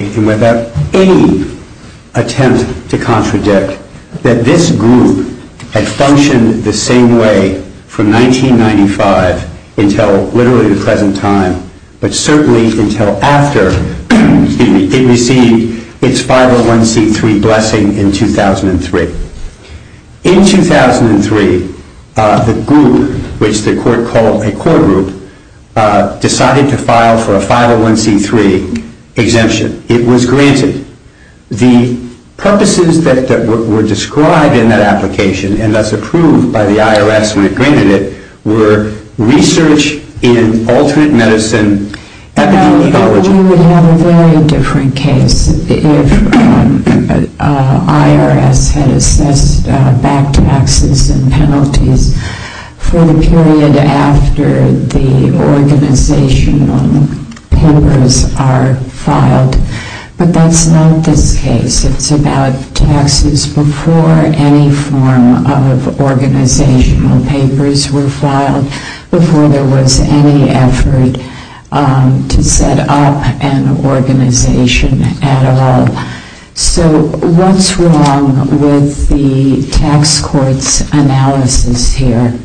and without any attempt to contradict that this group had functioned the same way from 1995 until literally the present time, but certainly until after it received its 501c3 blessing in 2003. In 2003 the group, which the court called a core group, decided to file for a 501c3 exemption. It was granted. The purposes that were described in that application and thus approved by the IRS when it granted it were research in alternate medicine epidemiology. We would have a very different case if IRS had assessed back taxes and penalties for the period after the organizational papers are filed, but that's not this case. It's about taxes before any form of organizational papers were filed, before there was any effort to set up an organization at all. So what's wrong with the tax court's analysis here?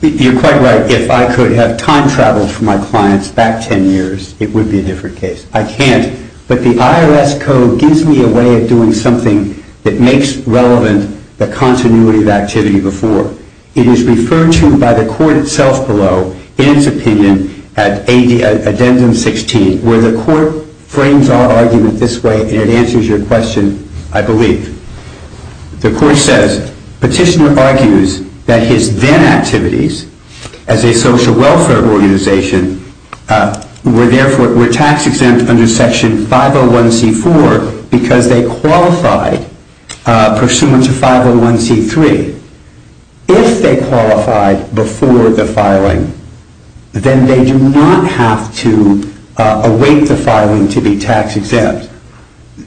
You're quite right. If I could have time traveled for my clients back 10 years, it would be a different case. I can't, but the IRS code gives me a way of doing something that makes relevant the continuity of activity before. It is referred to by the court itself below in its opinion at addendum 16 where the court frames our argument this way and it answers your question, I believe. The court says, petitioner argues that his then activities as a social welfare organization were tax exempt under section 501c4 because they qualified pursuant to 501c3. If they qualified before the filing, then they do not have to await the filing to be tax exempt.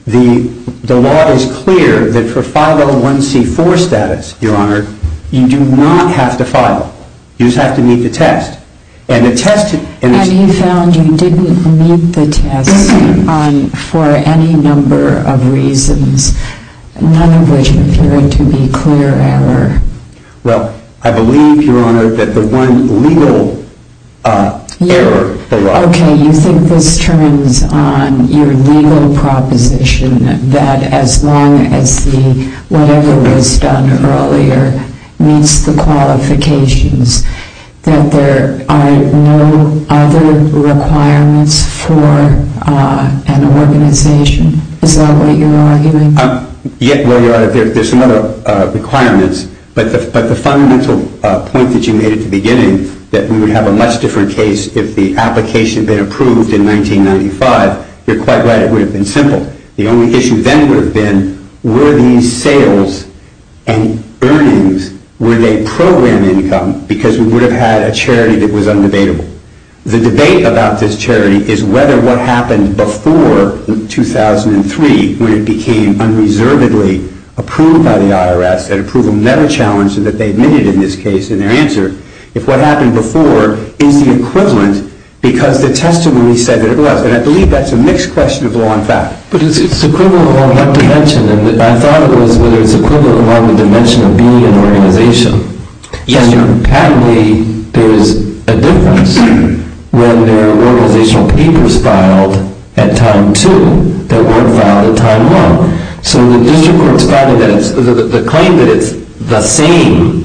The law is clear that for 501c4 status, your honor, you do not have to file. You just have to meet the test. And he found you didn't meet the test for any number of reasons, none of which appear to be clear error. Well, I believe, your honor, that the one legal error. Okay, you think this turns on your legal proposition that as long as the whatever was done earlier meets the qualifications, that there are no other requirements for an organization? Is that what you're arguing? Yeah, well, your honor, there's some other requirements, but the fundamental point that you made at the beginning that we would have a much different case if the application had been approved in 1995, you're quite right, it would have been simple. The only issue then would have been were these sales and earnings, were they program income because we would have had a charity that was undebatable. The debate about this charity is whether what happened before 2003 when it became unreservedly approved by the IRS, that approval never challenged and that they admitted in this case in their answer, if what happened before is the equivalent because the testimony said that it was. And I believe that's a mixed question of law and fact. But it's equivalent along what dimension? And I thought it was whether it's equivalent along the dimension of being an organization. Yes, your honor. And patently, there's a difference when there are organizational papers filed at time two that weren't filed at time one. So the district court's finding that the claim that it's the same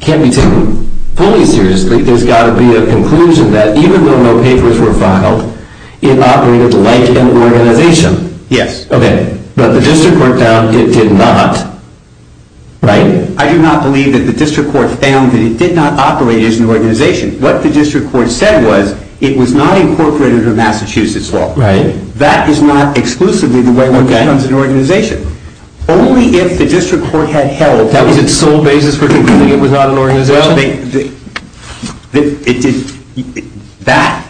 can't be taken fully seriously. There's got to be a conclusion that even though no papers were filed, it operated like an organization. Yes. Okay. But the district court found it did not, right? I do not believe that the district court found that it did not operate as an organization. What the district court said was it was not incorporated under Massachusetts law. Right. That is not exclusively the way one becomes an organization. Okay. Only if the district court had held that was its sole basis for concluding it was not an organization. Well, that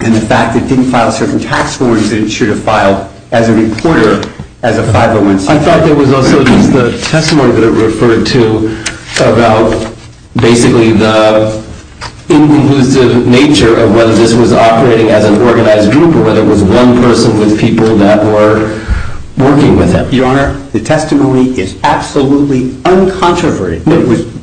and the fact that it didn't file certain tax forms that it should have filed as a reporter as a 501c. I thought there was also just the testimony that it referred to about basically the inconclusive nature of whether this was operating as an organized group or whether it was one person with people that were working with him. Your honor, the testimony is absolutely uncontroverted.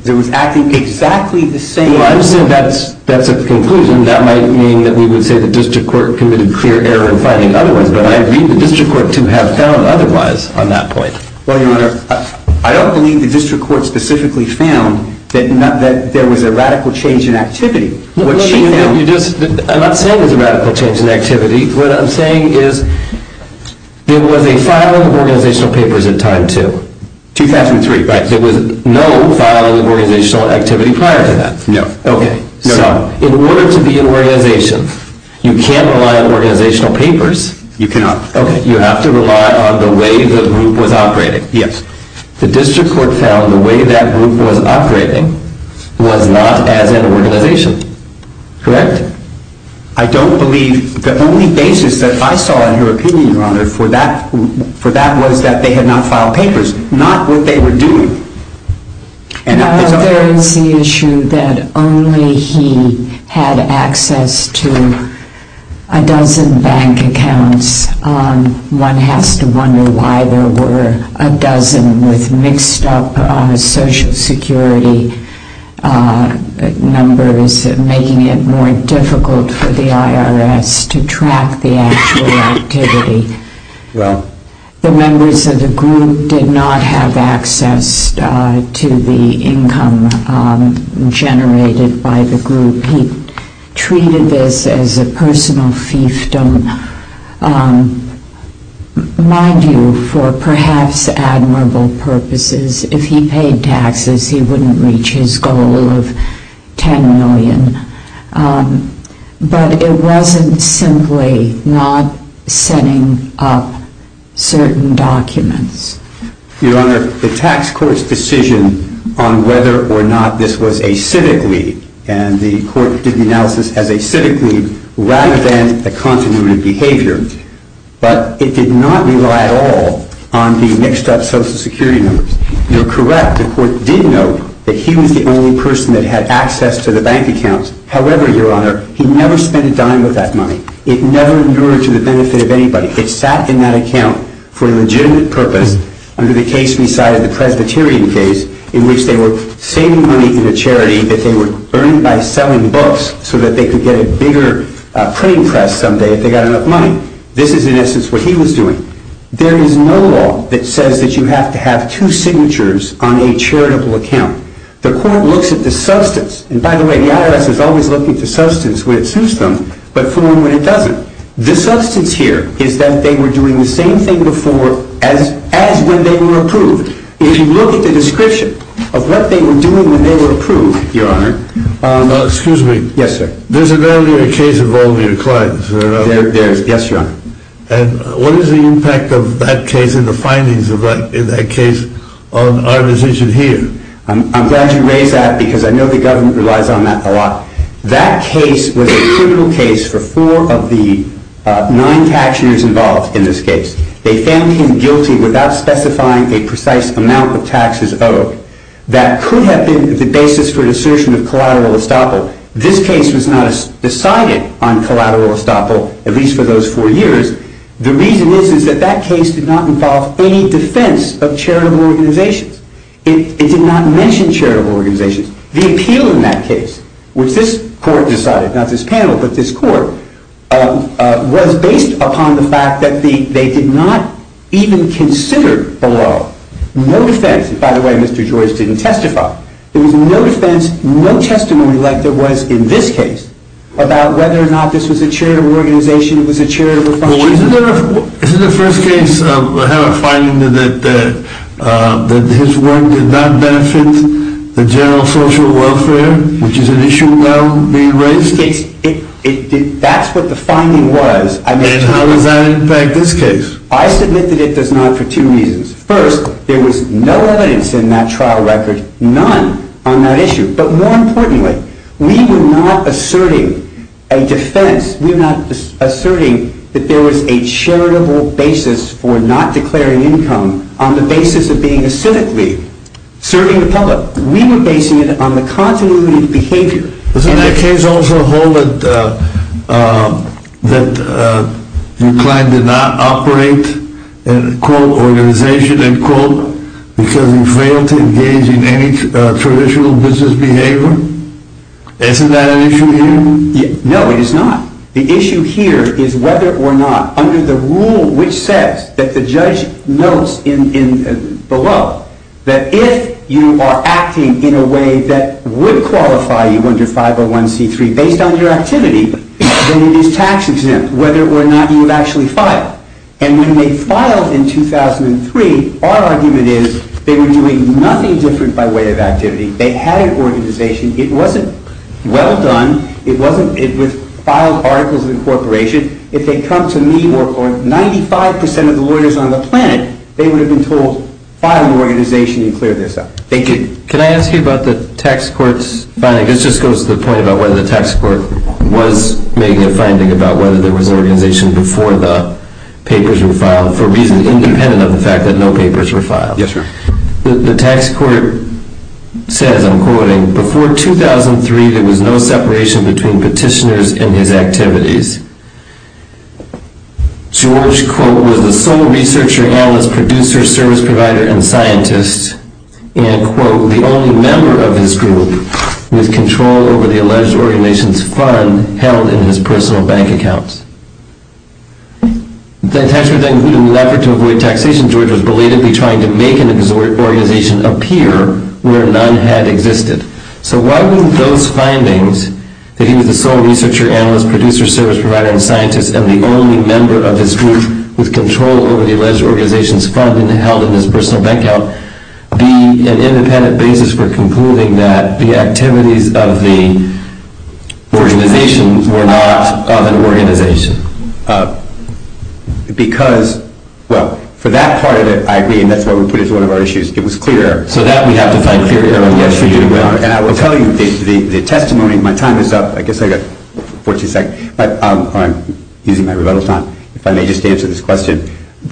It was acting exactly the same way. Well, I understand that's a conclusion. That might mean that we would say the district court committed clear error in finding otherwise. But I agree the district court to have found otherwise on that point. Well, your honor, I don't believe the district court specifically found that there was a radical change in activity. I'm not saying there was a radical change in activity. What I'm saying is there was a filing of organizational papers at time two. 2003. Right. There was no filing of organizational activity prior to that. No. Okay. So in order to be an organization, you can't rely on organizational papers. You cannot. Okay. You have to rely on the way the group was operating. Yes. The district court found the way that group was operating was not as an organization. Correct? I don't believe the only basis that I saw in your opinion, your honor, for that was that they had not filed papers. Not what they were doing. There is the issue that only he had access to a dozen bank accounts. One has to wonder why there were a dozen with mixed up social security numbers, making it more difficult for the IRS to track the actual activity. Well. The members of the group did not have access to the income generated by the group. He treated this as a personal fiefdom, mind you, for perhaps admirable purposes. If he paid taxes, he wouldn't reach his goal of $10 million. But it wasn't simply not setting up certain documents. Your honor, the tax court's decision on whether or not this was a civic lead, and the court did the analysis as a civic lead rather than a continuity of behavior, but it did not rely at all on the mixed up social security numbers. You're correct. The court did note that he was the only person that had access to the bank accounts. However, your honor, he never spent a dime of that money. It never endured to the benefit of anybody. It sat in that account for a legitimate purpose under the case we cited, the Presbyterian case, in which they were saving money in a charity that they were earning by selling books so that they could get a bigger printing press someday if they got enough money. This is, in essence, what he was doing. There is no law that says that you have to have two signatures on a charitable account. The court looks at the substance. And by the way, the IRS is always looking at the substance when it suits them, but for when it doesn't. The substance here is that they were doing the same thing before as when they were approved. If you look at the description of what they were doing when they were approved, your honor. Excuse me. Yes, sir. There's a value in a case involving a client. There is. Yes, your honor. And what is the impact of that case and the findings of that case on our decision here? I'm glad you raised that because I know the government relies on that a lot. That case was a criminal case for four of the nine cashiers involved in this case. They found him guilty without specifying a precise amount of taxes owed. That could have been the basis for an assertion of collateral estoppel. This case was not decided on collateral estoppel, at least for those four years. The reason is that that case did not involve any defense of charitable organizations. It did not mention charitable organizations. The appeal in that case, which this court decided, not this panel, but this court, was based upon the fact that they did not even consider below. No defense. And by the way, Mr. George didn't testify. There was no defense, no testimony like there was in this case, about whether or not this was a charitable organization, it was a charitable function. Isn't the first case have a finding that his work did not benefit the general social welfare, which is an issue now being raised? That's what the finding was. And how does that impact this case? I submit that it does not for two reasons. First, there was no evidence in that trial record, none on that issue. But more importantly, we were not asserting a defense. We were not asserting that there was a charitable basis for not declaring income on the basis of being a civic league, serving the public. We were basing it on the continuity of behavior. Doesn't that case also hold that your client did not operate an organization because he failed to engage in any traditional business behavior? Isn't that an issue here? No, it is not. The issue here is whether or not, under the rule which says, that the judge notes below, that if you are acting in a way that would qualify you under 501c3 based on your activity, then it is tax exempt whether or not you have actually filed. And when they filed in 2003, our argument is they were doing nothing different by way of activity. They had an organization. It wasn't well done. It was filed articles of incorporation. If they come to me or 95% of the lawyers on the planet, they would have been told file your organization and clear this up. Thank you. Can I ask you about the tax court's finding? This just goes to the point about whether the tax court was making a finding about whether there was an organization before the papers were filed, for reasons independent of the fact that no papers were filed. Yes, sir. The tax court says, I'm quoting, before 2003 there was no separation between petitioners and his activities. George, quote, was the sole researcher, analyst, producer, service provider, and scientist, and, quote, the only member of his group with control over the alleged organization's fund held in his personal bank accounts. The tax court then put a new effort to avoid taxation. George was belatedly trying to make an organization appear where none had existed. So why wouldn't those findings, that he was the sole researcher, analyst, producer, service provider, and scientist, and the only member of his group with control over the alleged organization's fund held in his personal bank account, be an independent basis for concluding that the activities of the organization were not of an organization? Because, well, for that part of it, I agree, and that's why we put it as one of our issues. It was clear error. So that we have to fight clear error. And I will tell you, the testimony, my time is up. I guess I've got 14 seconds. I'm using my rebuttal time. If I may just answer this question.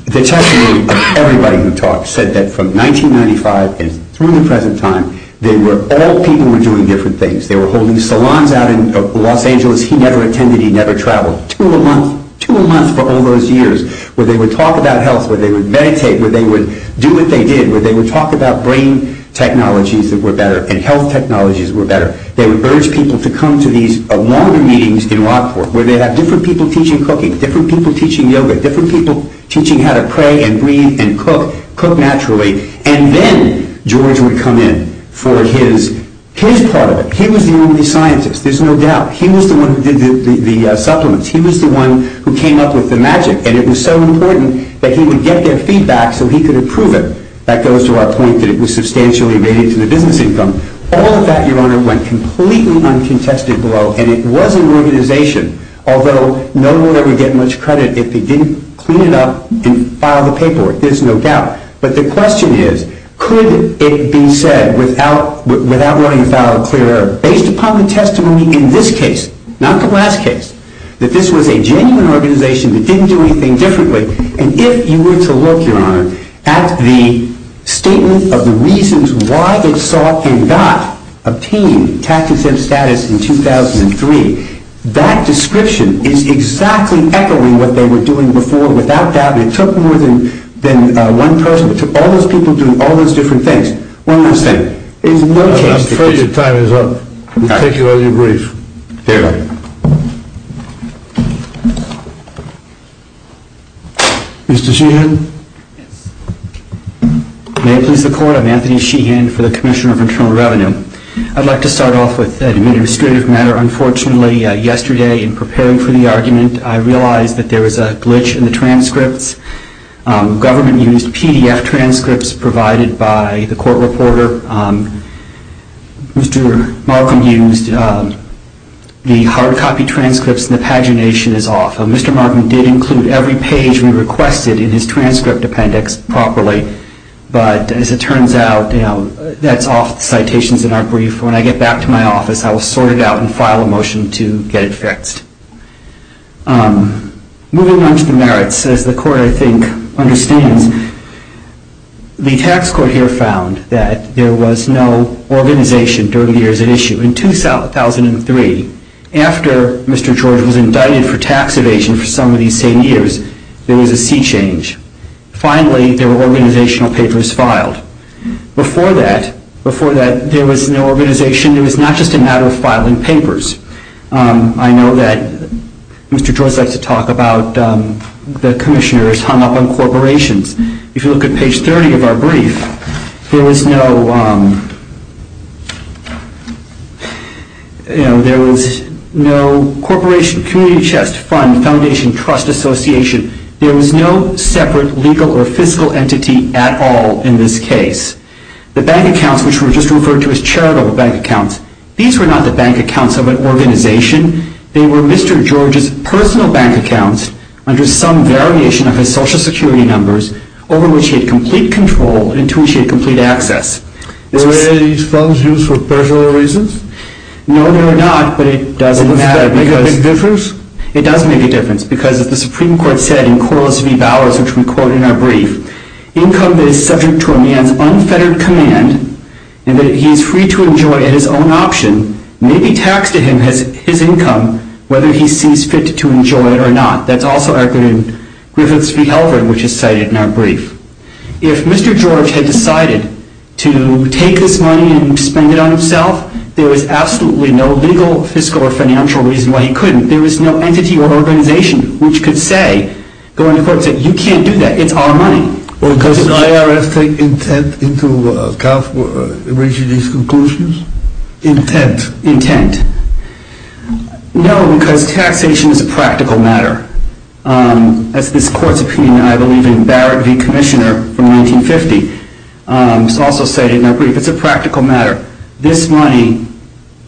The testimony of everybody who talked said that from 1995 through the present time, all people were doing different things. They were holding salons out in Los Angeles. He never attended. He never traveled. Two a month. Two a month for all those years, where they would talk about health, where they would meditate, where they would do what they did, where they would talk about brain technologies that were better and health technologies that were better. They would urge people to come to these longer meetings in Rockport, where they'd have different people teaching cooking, different people teaching yoga, different people teaching how to pray and breathe and cook, cook naturally. And then George would come in for his part of it. He was the only scientist. There's no doubt. He was the one who did the supplements. He was the one who came up with the magic. And it was so important that he would get their feedback so he could approve it. That goes to our point that it was substantially related to the business income. All of that, Your Honor, went completely uncontested below. And it was an organization, although no one would ever get much credit if they didn't clean it up and file the paperwork. There's no doubt. But the question is, could it be said without wanting to file a clear error, based upon the testimony in this case, not the last case, that this was a genuine organization that didn't do anything differently? And if you were to look, Your Honor, at the statement of the reasons why it sought and got obtained tax-exempt status in 2003, that description is exactly echoing what they were doing before. Without doubt, it took more than one person. It took all those people doing all those different things. One last thing. There's no change. I'm afraid your time is up. We'll take you on your brief. Very well. Mr. Sheehan? May it please the Court, I'm Anthony Sheehan for the Commissioner of Internal Revenue. I'd like to start off with an administrative matter. Unfortunately, yesterday, in preparing for the argument, I realized that there was a glitch in the transcripts. The government used PDF transcripts provided by the court reporter. Mr. Markham used the hard copy transcripts and the pagination is off. Mr. Markham did include every page we requested in his transcript appendix properly, but as it turns out, that's off the citations in our brief. When I get back to my office, I will sort it out and file a motion to get it fixed. Moving on to the merits, as the Court, I think, understands, the tax court here found that there was no organization during the years at issue. In 2003, after Mr. George was indicted for tax evasion for some of these same years, there was a sea change. Finally, there were organizational papers filed. Before that, there was no organization. It was not just a matter of filing papers. I know that Mr. George likes to talk about how the commissioners hung up on corporations. If you look at page 30 of our brief, there was no community trust fund, foundation, trust association. There was no separate legal or fiscal entity at all in this case. The bank accounts, which were just referred to as charitable bank accounts, these were not the bank accounts of an organization. They were Mr. George's personal bank accounts under some variation of his social security numbers over which he had complete control and to which he had complete access. Were any of these funds used for personal reasons? No, they were not, but it doesn't matter. Does it make a difference? It does make a difference because, as the Supreme Court said in Corliss v. Bowers, which we quote in our brief, income that is subject to a man's unfettered command and that he is free to enjoy at his own option may be taxed to him as his income, whether he sees fit to enjoy it or not. That's also accurate in Griffiths v. Halvard, which is cited in our brief. If Mr. George had decided to take this money and spend it on himself, there was absolutely no legal, fiscal, or financial reason why he couldn't. There was no entity or organization which could say, go into court and say, you can't do that, it's our money. Does the IRS take intent into account for reaching these conclusions? Intent? Intent. No, because taxation is a practical matter. As this court subpoenaed, I believe, in Barrett v. Commissioner from 1950. It's also cited in our brief. It's a practical matter. This money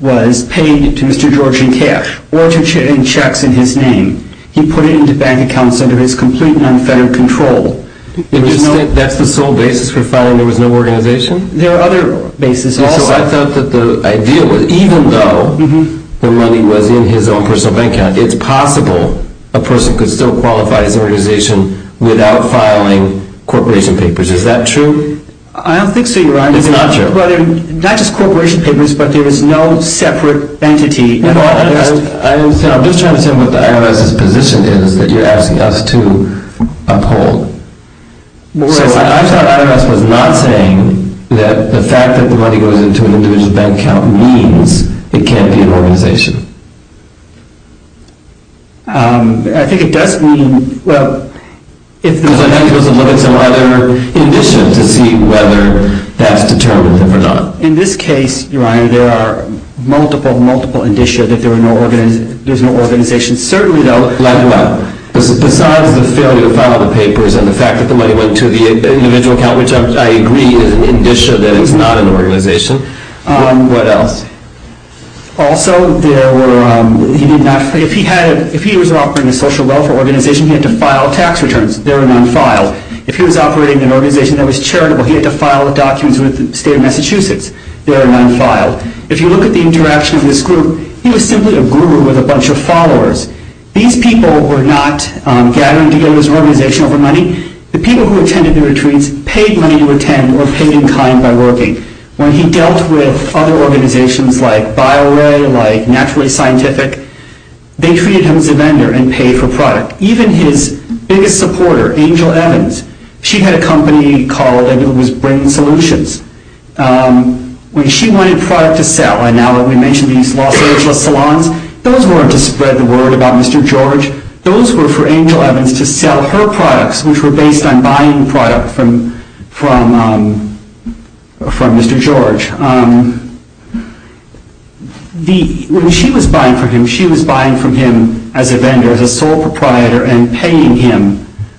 was paid to Mr. George in cash or in checks in his name. He put it into bank accounts under his complete and unfettered control. That's the sole basis for filing there was no organization? There are other bases also. So I thought that the idea was, even though the money was in his own personal bank account, it's possible a person could still qualify as an organization without filing corporation papers. Is that true? I don't think so, Your Honor. It's not true? Not just corporation papers, but there is no separate entity. I'm just trying to say what the IRS's position is that you're asking us to uphold. So I thought the IRS was not saying that the fact that the money goes into an individual's bank account means it can't be an organization. I think it does mean, well, if there's a limit to whether that's determined or not. In this case, Your Honor, there are multiple, multiple indicia that there's no organization. Certainly, though, besides the failure to file the papers and the fact that the money went to the individual account, which I agree is an indicia that it's not an organization, what else? Also, if he was operating a social welfare organization, he had to file tax returns. They were non-filed. If he was operating an organization that was charitable, he had to file the documents with the state of Massachusetts. They were non-filed. If you look at the interaction of this group, he was simply a guru with a bunch of followers. These people were not gathering together as an organization over money. The people who attended the retreats paid money to attend or paid in kind by working. When he dealt with other organizations like BioWay, like Naturally Scientific, they treated him as a vendor and paid for product. Even his biggest supporter, Angel Evans, she had a company called, I believe it was Brain Solutions. When she wanted product to sell, and now that we mention these Los Angeles salons, those weren't to spread the word about Mr. George. Those were for Angel Evans to sell her products, which were based on buying product from Mr. George. When she was buying from him, she was buying from him as a vendor, as a sole proprietor, and paying him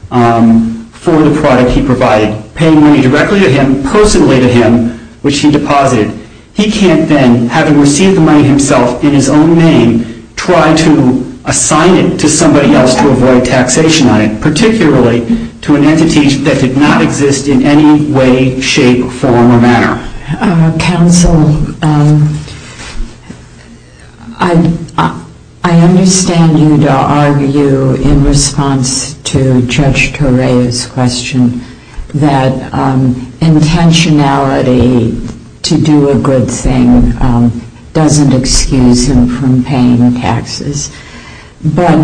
for the product he provided. Paying money directly to him, personally to him, which he deposited. He can't then, having received the money himself in his own name, try to assign it to somebody else to avoid taxation on it, particularly to an entity that did not exist in any way, shape, form, or manner. Counsel, I understand you to argue in response to Judge Toreo's question that intentionality to do a good thing doesn't excuse him from paying taxes. But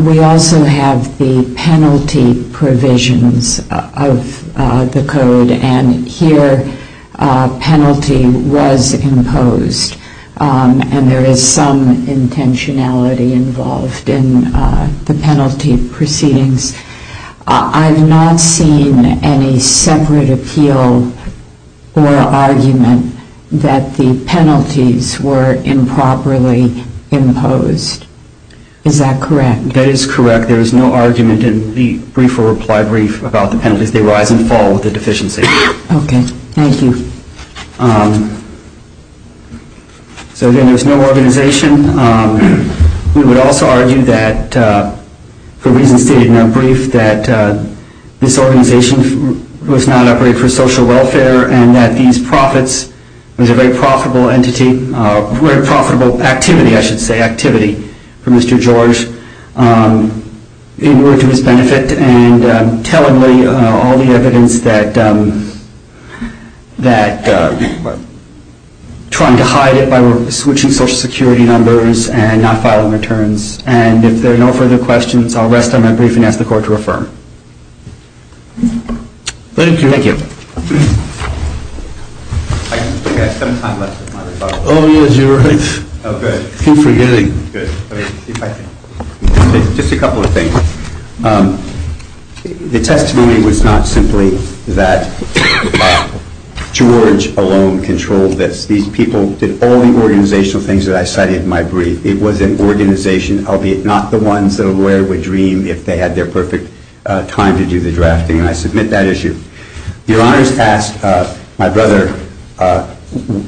we also have the penalty provisions of the Code, and here a penalty was imposed. And there is some intentionality involved in the penalty proceedings. I've not seen any separate appeal or argument that the penalties were improperly imposed. Is that correct? That is correct. There is no argument in the brief or reply brief about the penalties. They rise and fall with the deficiency. OK. Thank you. So again, there was no organization. We would also argue that, for reasons stated in our brief, that this organization was not operated for social welfare and that these profits was a very profitable entity, very profitable activity, I should say, activity for Mr. George in order to his benefit and tellingly all the evidence that trying to hide it by switching social security numbers and not filing returns. And if there are no further questions, I'll rest on my brief and ask the Court to affirm. Thank you. Thank you. I think I have some time left with my rebuttal. Oh, yes, you're right. Oh, good. Keep forgetting. Good. Just a couple of things. The testimony was not simply that George alone controlled this. These people did all the organizational things that I cited in my brief. It was an organization, albeit not the ones that a lawyer would dream if they had their perfect time to do the drafting, and I submit that issue. Your Honors asked my brother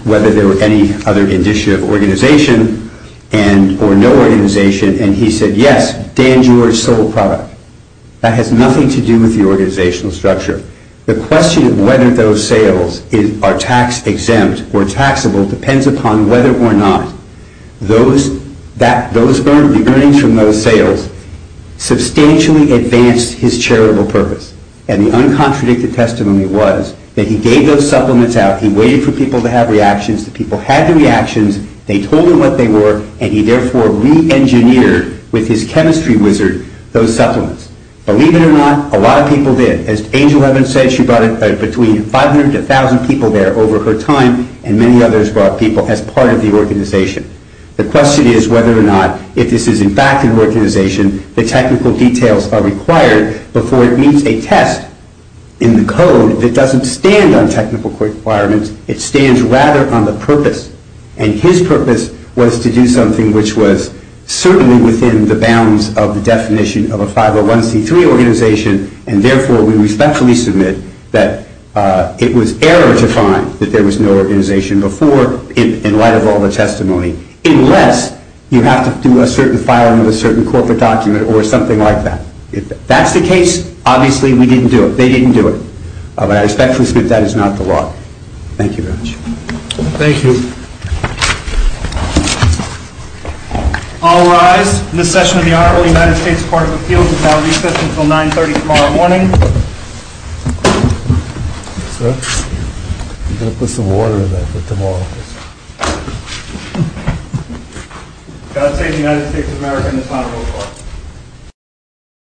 whether there were any other indicia of organization or no organization, and he said, yes, Dan George sold product. That has nothing to do with the organizational structure. The question of whether those sales are tax-exempt or taxable depends upon whether or not the earnings from those sales substantially advanced his charitable purpose. And the uncontradicted testimony was that he gave those supplements out, he waited for people to have reactions, the people had the reactions, they told him what they were, and he therefore re-engineered, with his chemistry wizard, those supplements. Believe it or not, a lot of people did. As Angel Evans said, she brought in between 500 to 1,000 people there over her time, and many others brought people as part of the organization. The question is whether or not, if this is in fact an organization, the technical details are required before it meets a test in the code that doesn't stand on technical requirements, it stands rather on the purpose. And his purpose was to do something which was certainly within the bounds of the definition of a 501c3 organization, and therefore we respectfully submit that it was error to find that there was no organization before, in light of all the testimony, unless you have to do a certain filing of a certain corporate document or something like that. If that's the case, obviously we didn't do it, they didn't do it. But I respectfully submit that is not the law. Thank you very much. Thank you.